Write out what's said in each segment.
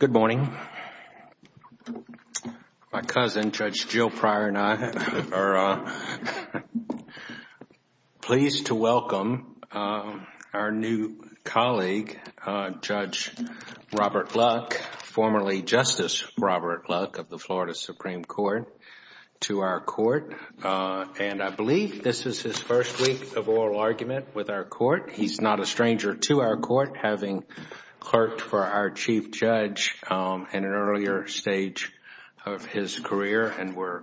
Good morning. My cousin, Judge Jill Pryor and I are pleased to welcome our new colleague, Judge Robert Luck, formerly Justice Robert Luck of the Florida Supreme Court, to our court. He's not a stranger to our court, having clerked for our Chief Judge in an earlier stage of his career, and we're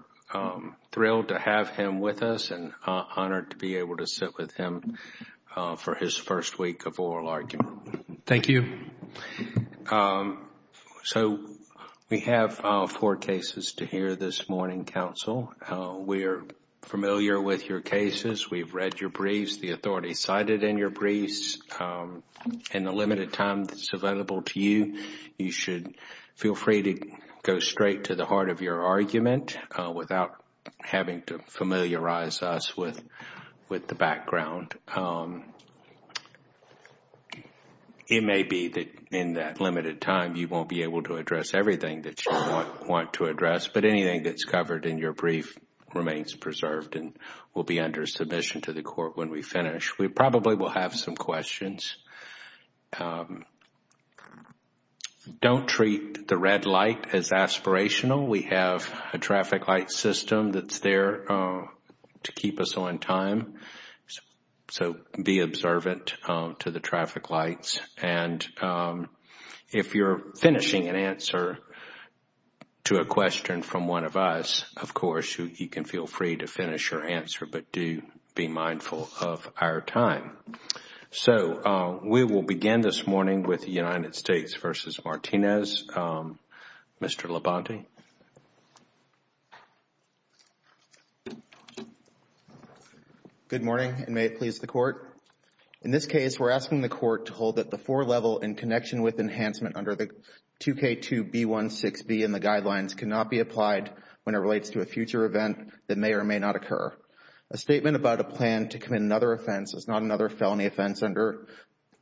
thrilled to have him with us and honored to be able to sit with him for his first week of oral argument. Robert Luck Thank you. Judge Pryor So, we have four cases to hear this morning, counsel. We're familiar with your cases. We've read your briefs, the authority cited in your briefs. In the limited time that's available to you, you should feel free to go straight to the heart of your argument without having to familiarize us with the background. It may be that in that limited time, you won't be able to address everything that you want to address, but anything that's covered in your brief remains preserved and will be under submission to the court when we finish. We probably will have some questions. Don't treat the red light as aspirational. We have a traffic light system that's there to keep us on time, so be observant to the traffic lights. If you're finishing an answer to a question from one of us, of course, you can feel free to finish your answer, but do be mindful of our time. We will begin this morning with the United States v. Martinez. Mr. Labonte? Good morning, and may it please the court. In this case, we're asking the court to hold that the four-level in connection with enhancement under the 2K2B16B in the guidelines cannot be applied when it relates to a future event that may or may not occur. A statement about a plan to commit another offense is not another felony offense under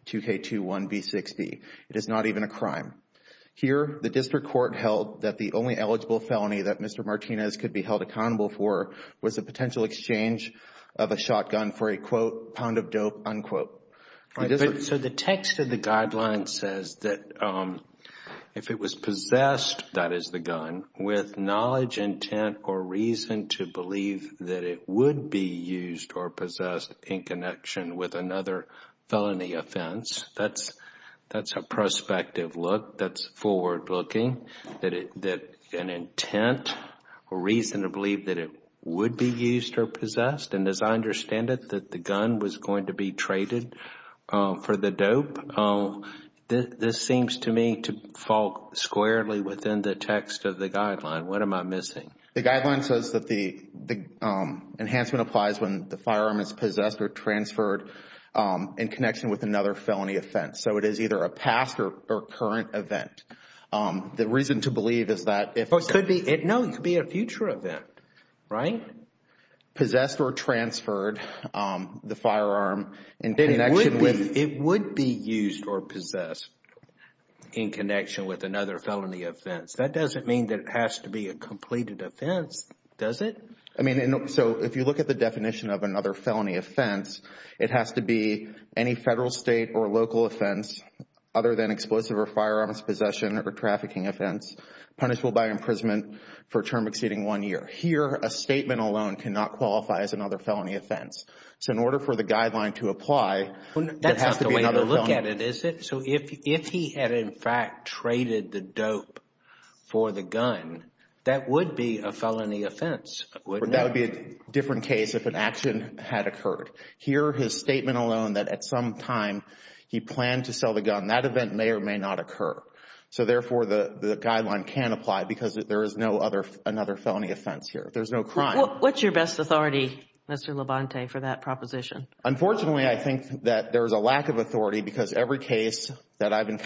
2K2B16B. It is not even a crime. Here, the district court held that the only eligible felony that Mr. Martinez could be held accountable for was a potential exchange of a shotgun for a, quote, pound of dope, unquote. So the text of the guideline says that if it was possessed, that is the gun, with knowledge, intent, or reason to believe that it would be used or possessed in connection with another felony offense. That is a prospective look. That is forward-looking. An intent or reason to believe that it would be used or possessed, and as I understand it, that the gun was going to be traded for the dope. This seems to me to fall squarely within the text of the guideline. What am I missing? The guideline says that the enhancement applies when the firearm is possessed or transferred in connection with another felony offense. So it is either a past or current event. The reason to believe is that if it could be, no, it could be a future event, right? Possessed or transferred, the firearm in connection with, it would be used or possessed in connection with another felony offense. That doesn't mean that it has to be a completed offense, does it? I mean, so if you look at the definition of another felony offense, it has to be any federal, state, or local offense other than explosive or firearms possession or trafficking offense punishable by imprisonment for a term exceeding one year. Here, a statement alone cannot qualify as another felony offense. So in order for the guideline to apply, it has to be another felony. That's not the way to look at it, is it? So if he had in fact traded the dope for the gun, that would be a felony offense, wouldn't it? That would be a different case if an action had occurred. Here, his statement alone that at some time he planned to sell the gun, that event may or may not occur. So therefore, the guideline can apply because there is no other felony offense here. There's no crime. What's your best authority, Mr. Labonte, for that proposition? Unfortunately, I think that there's a lack of authority because every case that I've been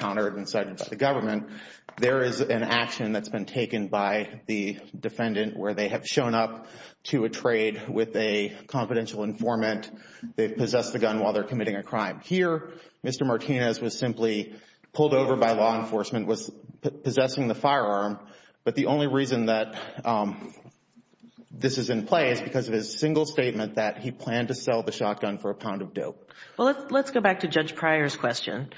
taken by the defendant where they have shown up to a trade with a confidential informant, they've possessed the gun while they're committing a crime. Here, Mr. Martinez was simply pulled over by law enforcement, was possessing the firearm, but the only reason that this is in play is because of his single statement that he planned to sell the shotgun for a pound of dope. Well, let's go back to Judge Pryor's question.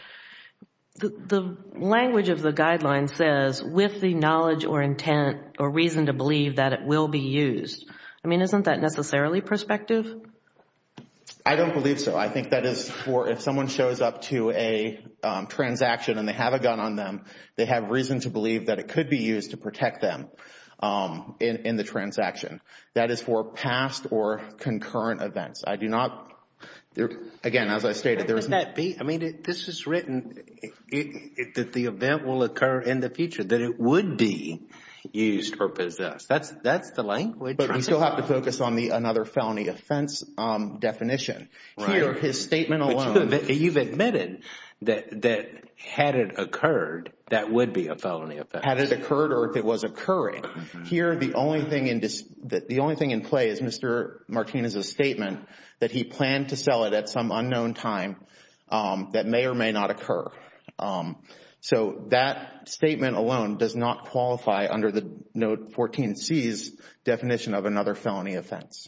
The language of the guideline says with the knowledge or intent or reason to believe that it will be used. I mean, isn't that necessarily prospective? I don't believe so. I think that is for if someone shows up to a transaction and they have a gun on them, they have reason to believe that it could be used to protect them in the transaction. That is for past or concurrent events. I do not, again, as I stated, there be used or possessed. That's the language. But we still have to focus on another felony offense definition. Here, his statement alone, you've admitted that had it occurred, that would be a felony offense. Had it occurred or if it was occurring. Here, the only thing in play is Mr. Martinez's statement that he planned to sell it at some unknown time that may or may not occur. So that statement alone does not qualify under the Note 14C's definition of another felony offense.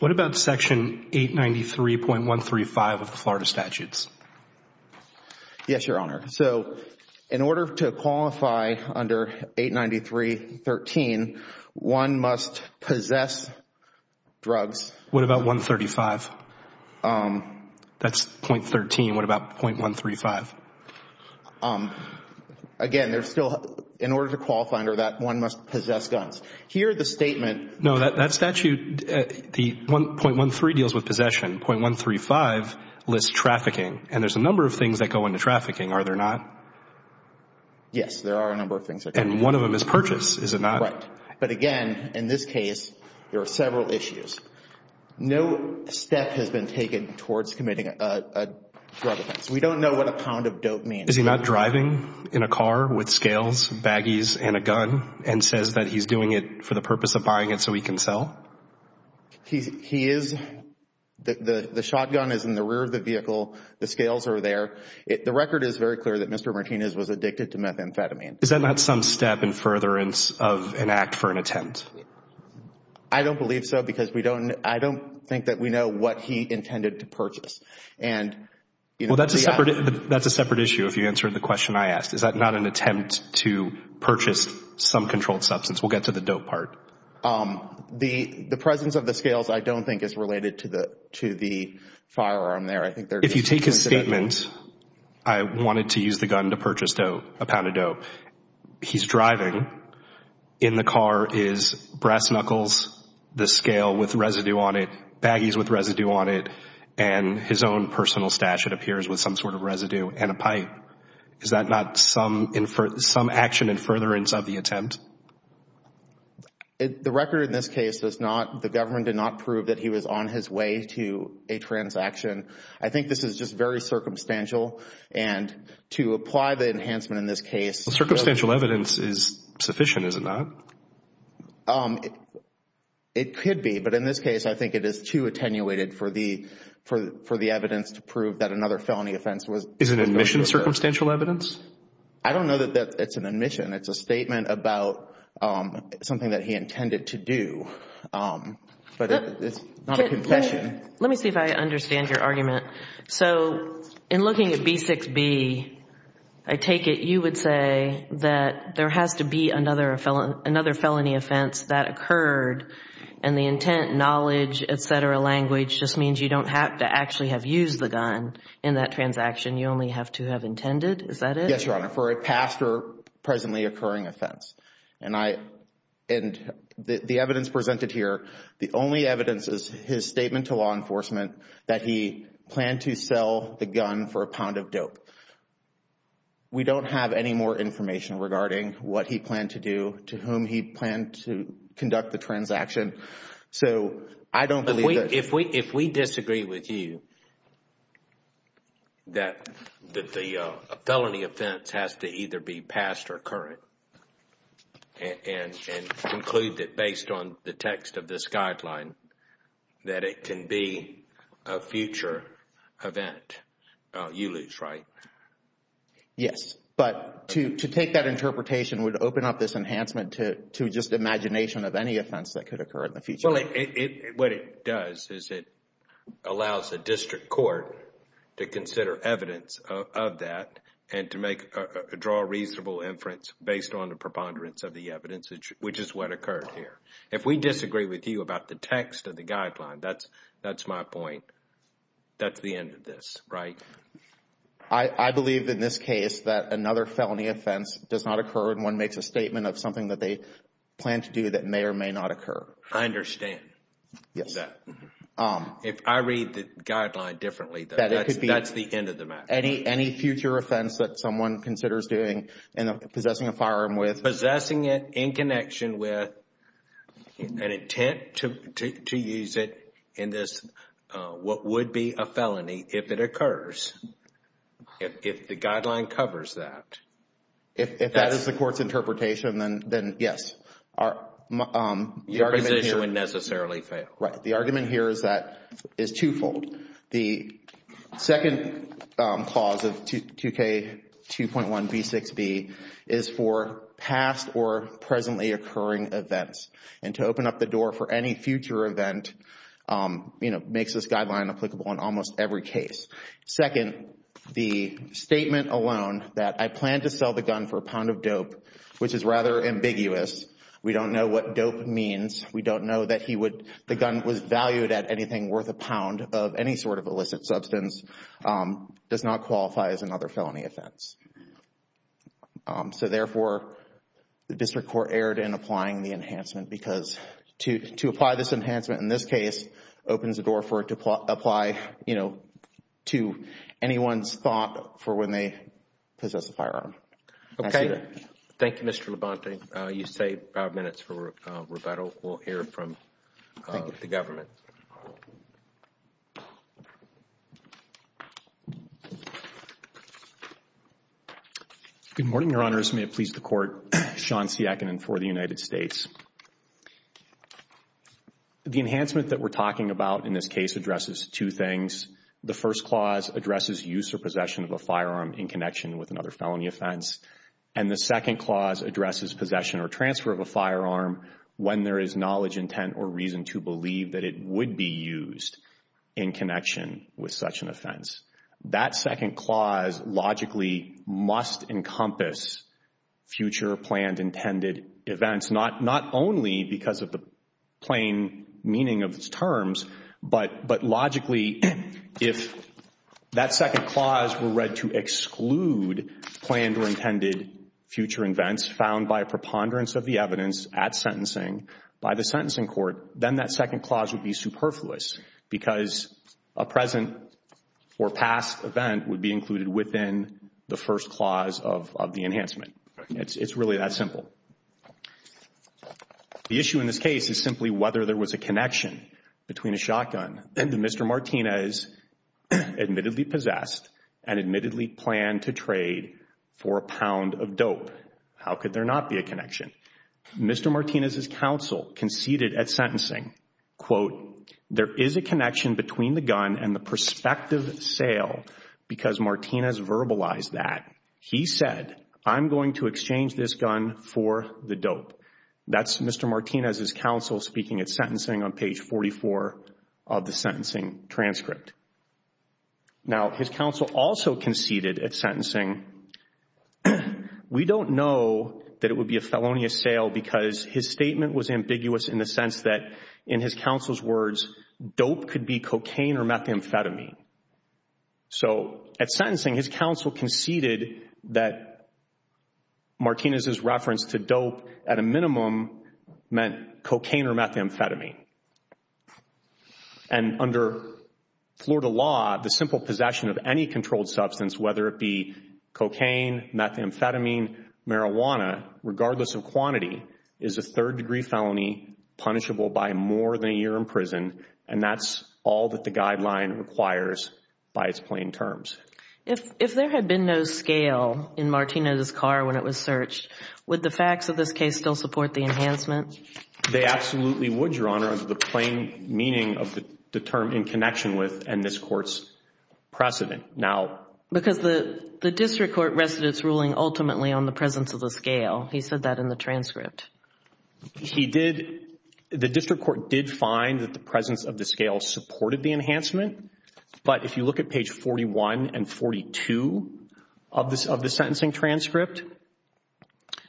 What about Section 893.135 of the Florida Statutes? Yes, Your Honor. So in order to qualify under 893.13, one must possess drugs. What about 135? That's .13. What about .135? Again, there's still, in order to qualify under that, one must possess guns. Here, the statement No, that statute, the .13 deals with possession. .135 lists trafficking. And there's a number of things that go into trafficking, are there not? Yes, there are a number of things that go into trafficking. And one of them is purchase, is it not? Correct. But again, in this case, there are several issues. No step has been taken towards committing a drug offense. We don't know what a pound of dope means. Is he not driving in a car with scales, baggies, and a gun and says that he's doing it for the purpose of buying it so he can sell? He is. The shotgun is in the rear of the vehicle. The scales are there. The record is very clear that Mr. Martinez was addicted to methamphetamine. Is that not some step in furtherance of an act for an attempt? I don't believe so because I don't think that we know what he intended to purchase. Well, that's a separate issue if you answered the question I asked. Is that not an attempt to purchase some controlled substance? We'll get to the dope part. The presence of the scales I don't think is related to the firearm there. If you take his statement, I wanted to use the gun to purchase a pound of dope. He's driving. In the car is brass knuckles, the scale with residue on it, baggies with residue on it, and his own personal stash, it appears, with some sort of residue and a pipe. Is that not some action in furtherance of the attempt? The record in this case does not, the government did not prove that he was on his way to a furtherance action. I think this is just very circumstantial and to apply the enhancement in this case. Circumstantial evidence is sufficient, is it not? It could be, but in this case I think it is too attenuated for the evidence to prove that another felony offense was. Is it an admission of circumstantial evidence? I don't know that it's an admission. It's a statement about something that he intended to do, but it's not a confession. Let me see if I understand your argument. So, in looking at B6b, I take it you would say that there has to be another felony offense that occurred and the intent, knowledge, et cetera, language just means you don't have to actually have used the gun in that transaction. You only have to have intended, is that it? Yes, Your Honor, for a past or presently occurring offense. And the evidence presented here, the only evidence is his statement to law enforcement that he planned to sell the gun for a pound of dope. We don't have any more information regarding what he planned to do, to whom he planned to conduct the transaction. So, I don't believe that. If we disagree with you, that the felony offense has to either be past or current and conclude it based on the text of this guideline, that it can be a future event. You lose, right? Yes, but to take that interpretation would open up this enhancement to just the imagination of any offense that could occur in the future. What it does is it allows the district court to consider evidence of that and to draw a If we disagree with you about the text of the guideline, that's my point. That's the end of this, right? I believe in this case that another felony offense does not occur when one makes a statement of something that they plan to do that may or may not occur. I understand that. If I read the guideline differently, that's the end of the matter. Any future offense that someone considers doing and possessing a firearm with. Possessing it in connection with an intent to use it in this, what would be a felony if it occurs. If the guideline covers that. If that is the court's interpretation, then yes. The argument here would necessarily fail. Right. The argument here is twofold. The second clause of 2K2.1b6b is for past or presently occurring events. And to open up the door for any future event makes this guideline applicable in almost every case. Second, the statement alone that I plan to sell the gun for a pound of dope, which is rather ambiguous. We don't know what dope means. We don't know that the gun was valued at anything worth a pound of any sort of illicit substance. Does not qualify as another felony offense. So therefore, the district court erred in applying the enhancement. Because to apply this enhancement in this case opens the door for it to apply, you know, to anyone's thought for when they possess a firearm. Okay. Thank you, Mr. Labonte. You saved five minutes for rebuttal. We'll hear from the government. Good morning, Your Honors. May it please the court. Sean Siakinen for the United States. The enhancement that we're talking about in this case addresses two things. The first clause addresses use or possession of a firearm in connection with another felony offense. And the second clause addresses possession or transfer of a firearm when there is knowledge, intent, or reason to believe that it would be used in connection with such an offense. That second clause logically must encompass future planned intended events. Not only because of the plain meaning of its terms, but logically if that second clause were read to exclude planned or intended future events found by preponderance of the evidence at sentencing by the sentencing court, then that second clause would be superfluous. Because a present or past event would be included within the first clause of the enhancement. It's really that simple. The issue in this case is simply whether there was a connection between a shotgun that Mr. Martinez admittedly possessed and admittedly planned to trade for a pound of dope. How could there not be a connection? Mr. Martinez's counsel conceded at sentencing, quote, there is a connection between the gun and the prospective sale because Martinez verbalized that. He said, I'm going to exchange this gun for the dope. That's Mr. Martinez's counsel speaking at sentencing on page 44 of the sentencing transcript. Now, his counsel also conceded at sentencing, we don't know that it would be a felonious sale because his statement was ambiguous in the sense that in his counsel's words, dope could be cocaine or methamphetamine. So, at sentencing, his counsel conceded that Martinez's reference to dope at a minimum meant cocaine or methamphetamine. And under Florida law, the simple possession of any controlled substance, whether it be cocaine, methamphetamine, marijuana, regardless of quantity, is a third-degree felony punishable by more than a year in prison. And that's all that the guideline requires by its plain terms. If there had been no scale in Martinez's car when it was searched, would the facts of this case still support the enhancement? They absolutely would, Your Honor, under the plain meaning of the term in connection with and this court's precedent. Now- Because the district court rested its ruling ultimately on the presence of the scale. He said that in the transcript. He did, the district court did find that the presence of the scale supported the enhancement. But if you look at page 41 and 42 of the sentencing transcript,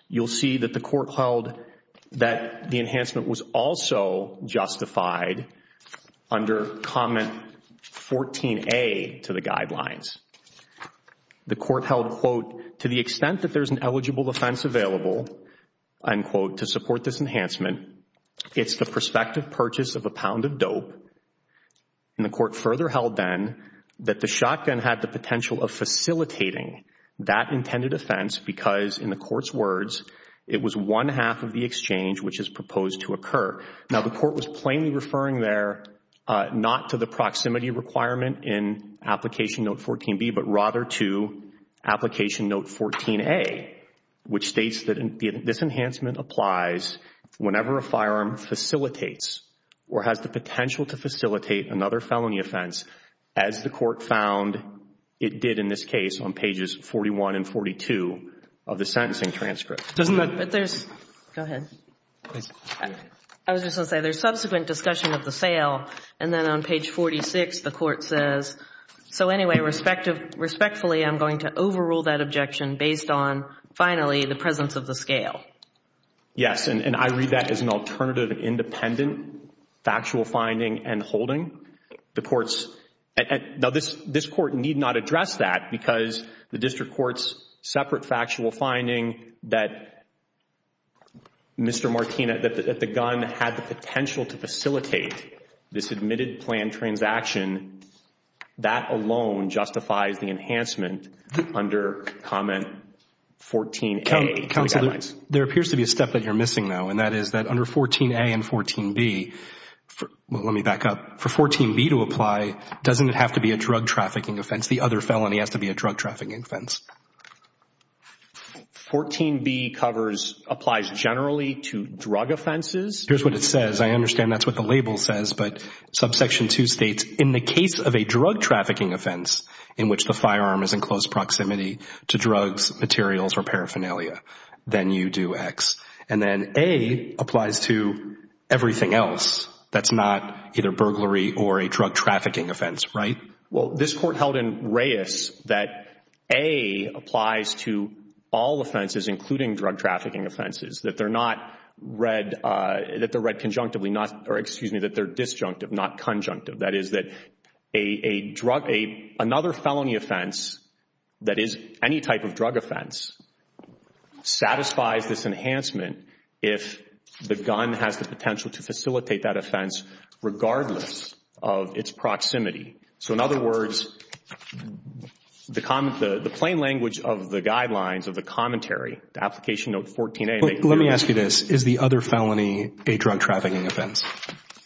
you'll see that the court held that the enhancement was also justified under comment 14A to the guidelines. The court held, quote, to the extent that there's an eligible offense available, unquote, to support this enhancement, it's the prospective purchase of a pound of dope. And the court further held then that the shotgun had the potential of facilitating that intended offense because, in the court's words, it was one half of the exchange which is proposed to occur. Now, the court was plainly referring there not to the proximity requirement in application note 14B, but rather to application note 14A, which states that this enhancement applies whenever a firearm facilitates or has the potential to facilitate another felony offense, as the court found it did in this case on pages 41 and 42 of the sentencing transcript. Doesn't that- But there's, go ahead. I was just going to say, there's subsequent discussion of the sale, and then on page 46, the court says, so anyway, respectfully, I'm going to overrule that objection based on, finally, the presence of the scale. Yes, and I read that as an alternative independent factual finding and holding. The court's, now this court need not address that because the district court's separate factual finding that Mr. Martina, that the gun had the potential to facilitate this admitted plan transaction, that alone justifies the enhancement under comment 14A. Counselor, there appears to be a step that you're missing now, and that is that under 14A and 14B, let me back up, for 14B to apply, doesn't it have to be a drug trafficking offense? The other felony has to be a drug trafficking offense. 14B covers, applies generally to drug offenses. Here's what it says. I understand that's what the label says, but subsection 2 states, in the case of a drug trafficking offense in which the firearm is in close proximity to drugs, materials, or paraphernalia, then you do X, and then A applies to everything else that's not either burglary or a drug trafficking offense, right? Well, this court held in Reyes that A applies to all offenses including drug trafficking offenses, that they're not read, that they're read conjunctively, not, or excuse me, that they're disjunctive, not conjunctive. That is that a drug, another felony offense that is any type of drug offense, satisfies this enhancement if the gun has the potential to facilitate that offense regardless of its proximity. So, in other words, the plain language of the guidelines of the commentary, the application note 14A. Let me ask you this. Is the other felony a drug trafficking offense?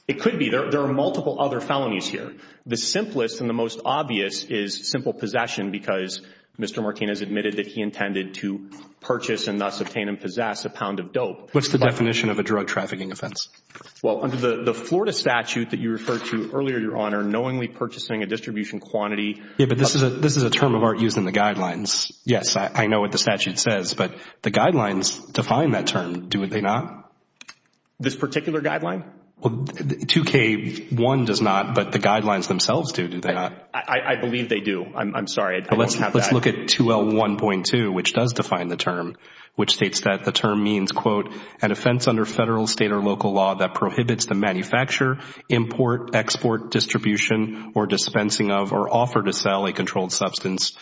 It could be. There are multiple other felonies here. The simplest and the most obvious is simple possession because Mr. Martinez admitted that he intended to purchase and thus obtain and possess a pound of dope. What's the definition of a drug trafficking offense? Well, under the Florida statute that you referred to earlier, Your Honor, knowingly purchasing a distribution quantity. Yeah, but this is a term of art used in the guidelines. Yes, I know what the statute says, but the guidelines define that term, do they not? This particular guideline? Well, 2K1 does not, but the guidelines themselves do, do they not? I believe they do. I'm sorry, I don't have that. Let's look at 2L1.2, which does define the term, which states that the term means, quote, an offense under federal, state, or local law that prohibits the manufacture, import, export, distribution, or dispensing of, or offer to sell a controlled substance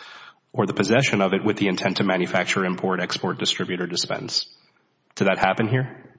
or the possession of it with the intent to manufacture, import, export, distribute, or dispense. Did that happen here?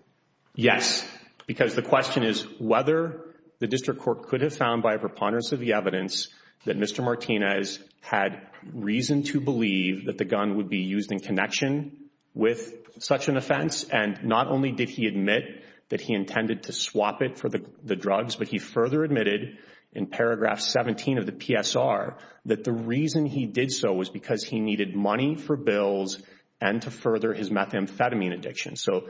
Yes, because the question is whether the district court could have found by a preponderance of the evidence that Mr. Martinez had reason to believe that the gun would be used in connection with such an offense. And not only did he admit that he intended to swap it for the drugs, but he further admitted in paragraph 17 of the PSR that the reason he did so was because he needed money for bills and to further his methamphetamine addiction. So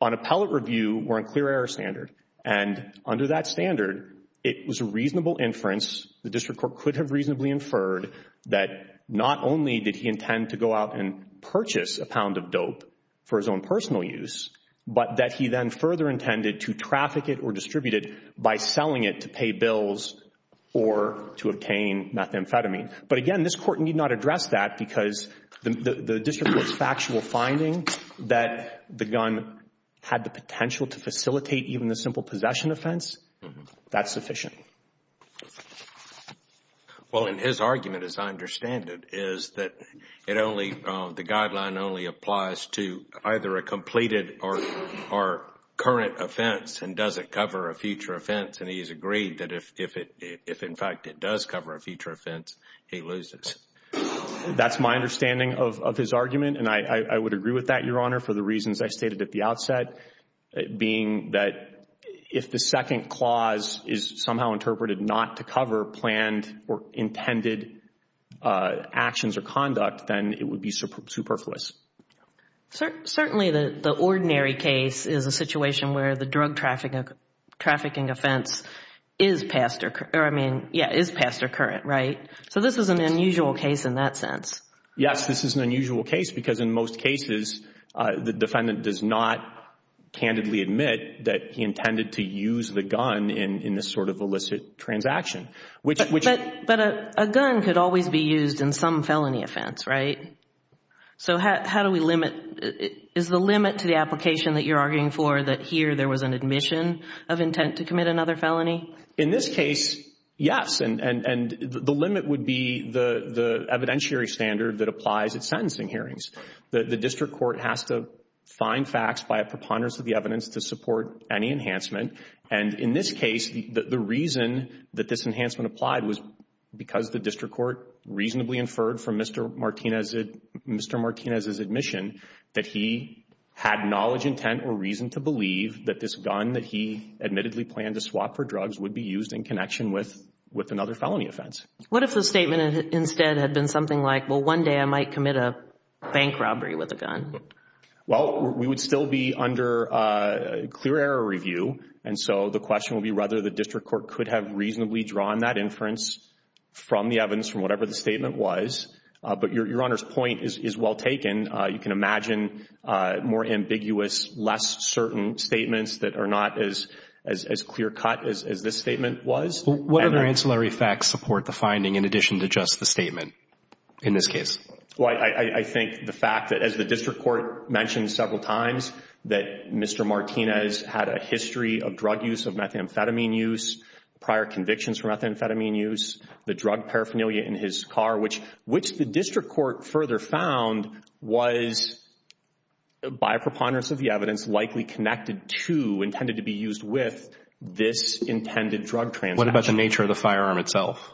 on appellate review, we're on clear error standard. And under that standard, it was a reasonable inference. The district court could have reasonably inferred that not only did he intend to go out and for his own personal use, but that he then further intended to traffic it or distribute it by selling it to pay bills or to obtain methamphetamine. But again, this court need not address that because the district court's factual finding that the gun had the potential to facilitate even the simple possession offense, that's sufficient. Well, in his argument, as I understand it, is that it only, the guideline only applies to either a completed or current offense and doesn't cover a future offense. And he's agreed that if, in fact, it does cover a future offense, he loses. That's my understanding of his argument. And I would agree with that, Your Honor, for the reasons I stated at the outset, being that if the second clause is somehow interpreted not to cover planned or intended actions or conduct, then it would be superfluous. Certainly, the ordinary case is a situation where the drug trafficking offense is past or, or I mean, yeah, is past or current, right? So this is an unusual case in that sense. Yes, this is an unusual case because in most cases, the defendant does not candidly admit that he intended to use the gun in this sort of illicit transaction. But a gun could always be used in some felony offense, right? So how do we limit, is the limit to the application that you're arguing for that here there was an admission of intent to commit another felony? In this case, yes. And the limit would be the evidentiary standard that applies at sentencing hearings. The district court has to find facts by a preponderance of the evidence to support any enhancement. And in this case, the reason that this enhancement applied was because the district court reasonably inferred from Mr. Martinez's admission that he had knowledge, intent, or reason to believe that this gun that he admittedly planned to swap for drugs would be used in connection with another felony offense. What if the statement instead had been something like, well, one day I might commit a bank robbery with a gun? Well, we would still be under clear error review. And so the question would be whether the district court could have reasonably drawn that inference from the evidence, from whatever the statement was. But your Honor's point is well taken. You can imagine more ambiguous, less certain statements that are not as clear cut as this statement was. What other ancillary facts support the finding in addition to just the statement in this case? Well, I think the fact that as the district court mentioned several times that Mr. Martinez had a history of drug use, of methamphetamine use, prior convictions for methamphetamine use, the drug paraphernalia in his car, which the district court further found was, by preponderance of the evidence, likely connected to, intended to be used with, this intended drug transaction. What about the nature of the firearm itself?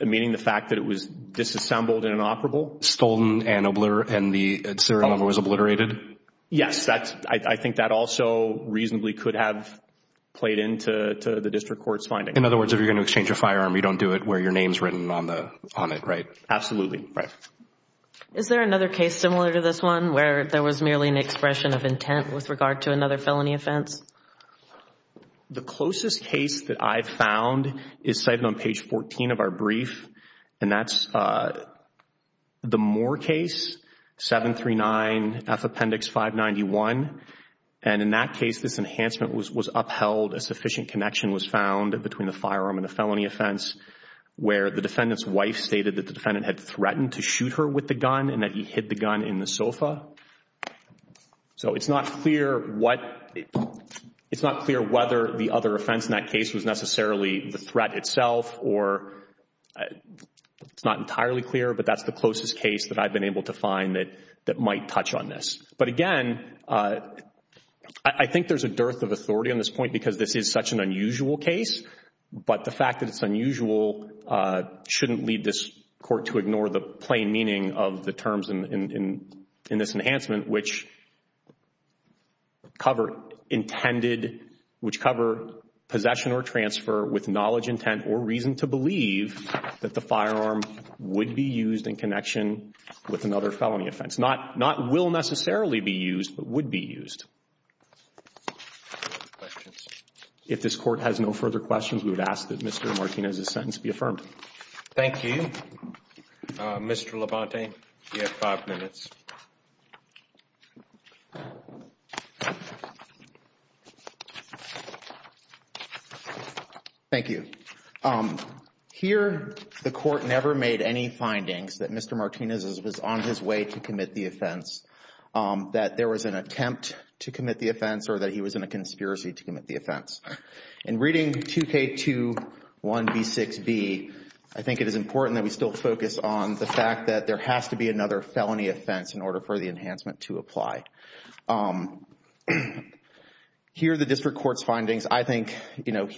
Meaning the fact that it was disassembled and inoperable? Stolen and the serial number was obliterated? Yes, I think that also reasonably could have played into the district court's finding. In other words, if you're going to exchange a firearm, you don't do it where your name's written on it, right? Absolutely. Is there another case similar to this one where there was merely an expression of intent with regard to another felony offense? The closest case that I've found is cited on page 14 of our brief, and that's the Moore case, 739F Appendix 591. And in that case, this enhancement was upheld. A sufficient connection was found between the firearm and the felony offense where the defendant's wife stated that the defendant had threatened to shoot her with the gun and that he hid the gun in the sofa. So it's not clear whether the other offense in that case was necessarily the threat itself or it's not entirely clear, but that's the closest case that I've been able to find that might touch on this. But again, I think there's a dearth of authority on this point because this is such an unusual case, but the fact that it's unusual shouldn't lead this court to ignore the plain meaning of the terms in this enhancement, which cover possession or transfer with knowledge, intent, or reason to believe that the firearm would be used in connection with another felony offense. Not will necessarily be used, but would be used. If this Court has no further questions, we would ask that Mr. Martinez's sentence be affirmed. Thank you. Mr. Labonte, you have five minutes. Thank you. Here, the Court never made any findings that Mr. Martinez was on his way to commit the offense, that there was an attempt to commit the offense, or that he was in a conspiracy to commit the offense. In reading 2K21B6B, I think it is important that we still focus on the fact that there has to be another felony offense in order for the enhancement to apply. Here are the District Court's findings. I think, you know,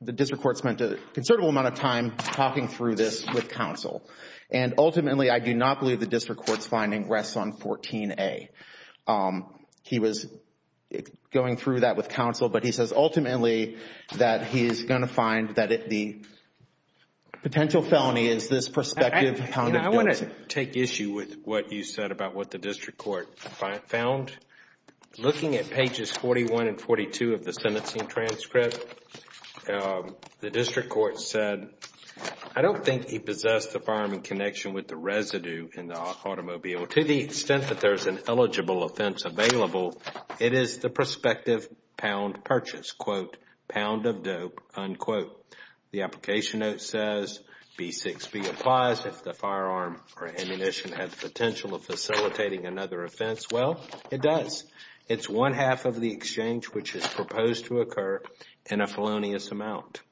the District Court spent a considerable amount of time talking through this with counsel, and ultimately, I do not believe the District Court's finding rests on 14A. He was going through that with counsel, but he says ultimately that he is going to find that the potential felony is this prospective pound of dope. I want to take issue with what you said about what the District Court found. Looking at pages 41 and 42 of the sentencing transcript, the District Court said, I do not think he possessed the firearm in connection with the residue in the automobile. To the extent that there is an eligible offense available, it is the prospective pound purchase, quote, pound of dope, unquote. The application note says B6B applies if the firearm or ammunition has the potential of facilitating another offense. Well, it does. It is one half of the exchange which is proposed to occur in a felonious amount.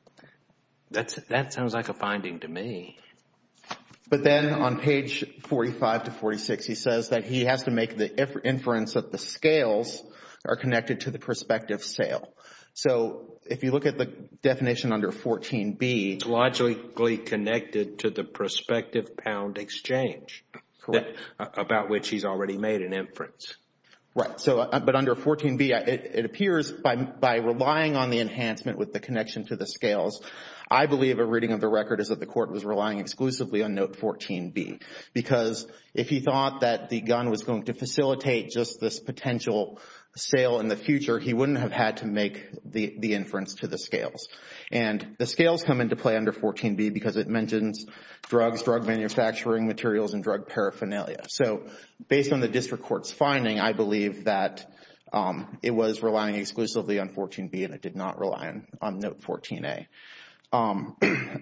That sounds like a finding to me. But then on page 45 to 46, he says that he has to make the inference that the scales are connected to the prospective sale. So if you look at the definition under 14B. It is logically connected to the prospective pound exchange. Correct. About which he has already made an inference. Right. But under 14B, it appears by relying on the enhancement with the connection to the scales, I believe a reading of the record is that the court was relying exclusively on note 14B. Because if he thought that the gun was going to facilitate just this potential sale in the future, he wouldn't have had to make the inference to the scales. And the scales come into play under 14B because it mentions drugs, drug manufacturing materials and drug paraphernalia. So based on the district court's finding, I believe that it was relying exclusively on 14B and it did not rely on note 14A.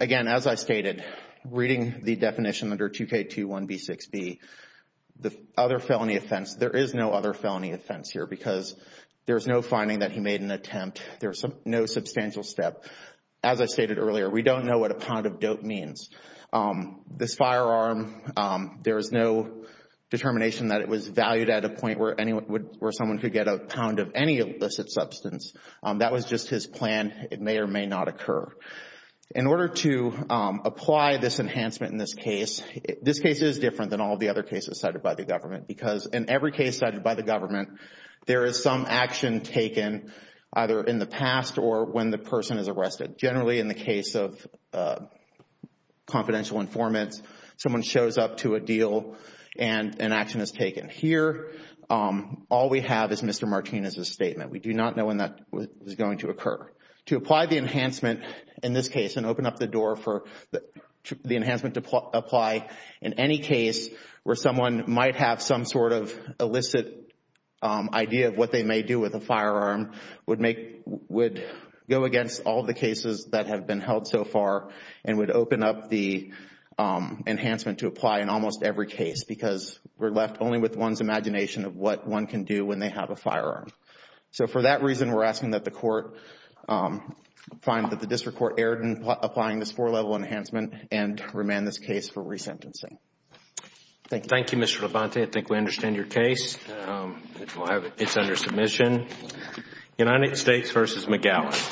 Again, as I stated, reading the definition under 2K21B6B, the other felony offense, there is no other felony offense here because there's no finding that he made an attempt. There's no substantial step. As I stated earlier, we don't know what a pound of dope means. This firearm, there is no determination that it was valued at a point where someone could get a pound of any illicit substance. That was just his plan. It may or may not occur. In order to apply this enhancement in this case, this case is different than all the other cases cited by the government because in every case cited by the government, there is some action taken either in the past or when the person is arrested. Generally, in the case of confidential informants, someone shows up to a deal and an action is taken. Here, all we have is Mr. Martinez's statement. We do not know when that was going to occur. To apply the enhancement in this case and open up the door for the enhancement to apply in any case where someone might have some sort of illicit idea of what they may do with a firearm would go against all the cases that have been held so far and would open up the enhancement to apply in almost every case because we're left only with one's imagination of what one can do when they have a firearm. For that reason, we're asking that the court find that the district court erred in applying this four-level enhancement and remand this case for resentencing. Thank you. Thank you, Mr. Levante. I think we understand your case. It's under submission. United States v. McGowan.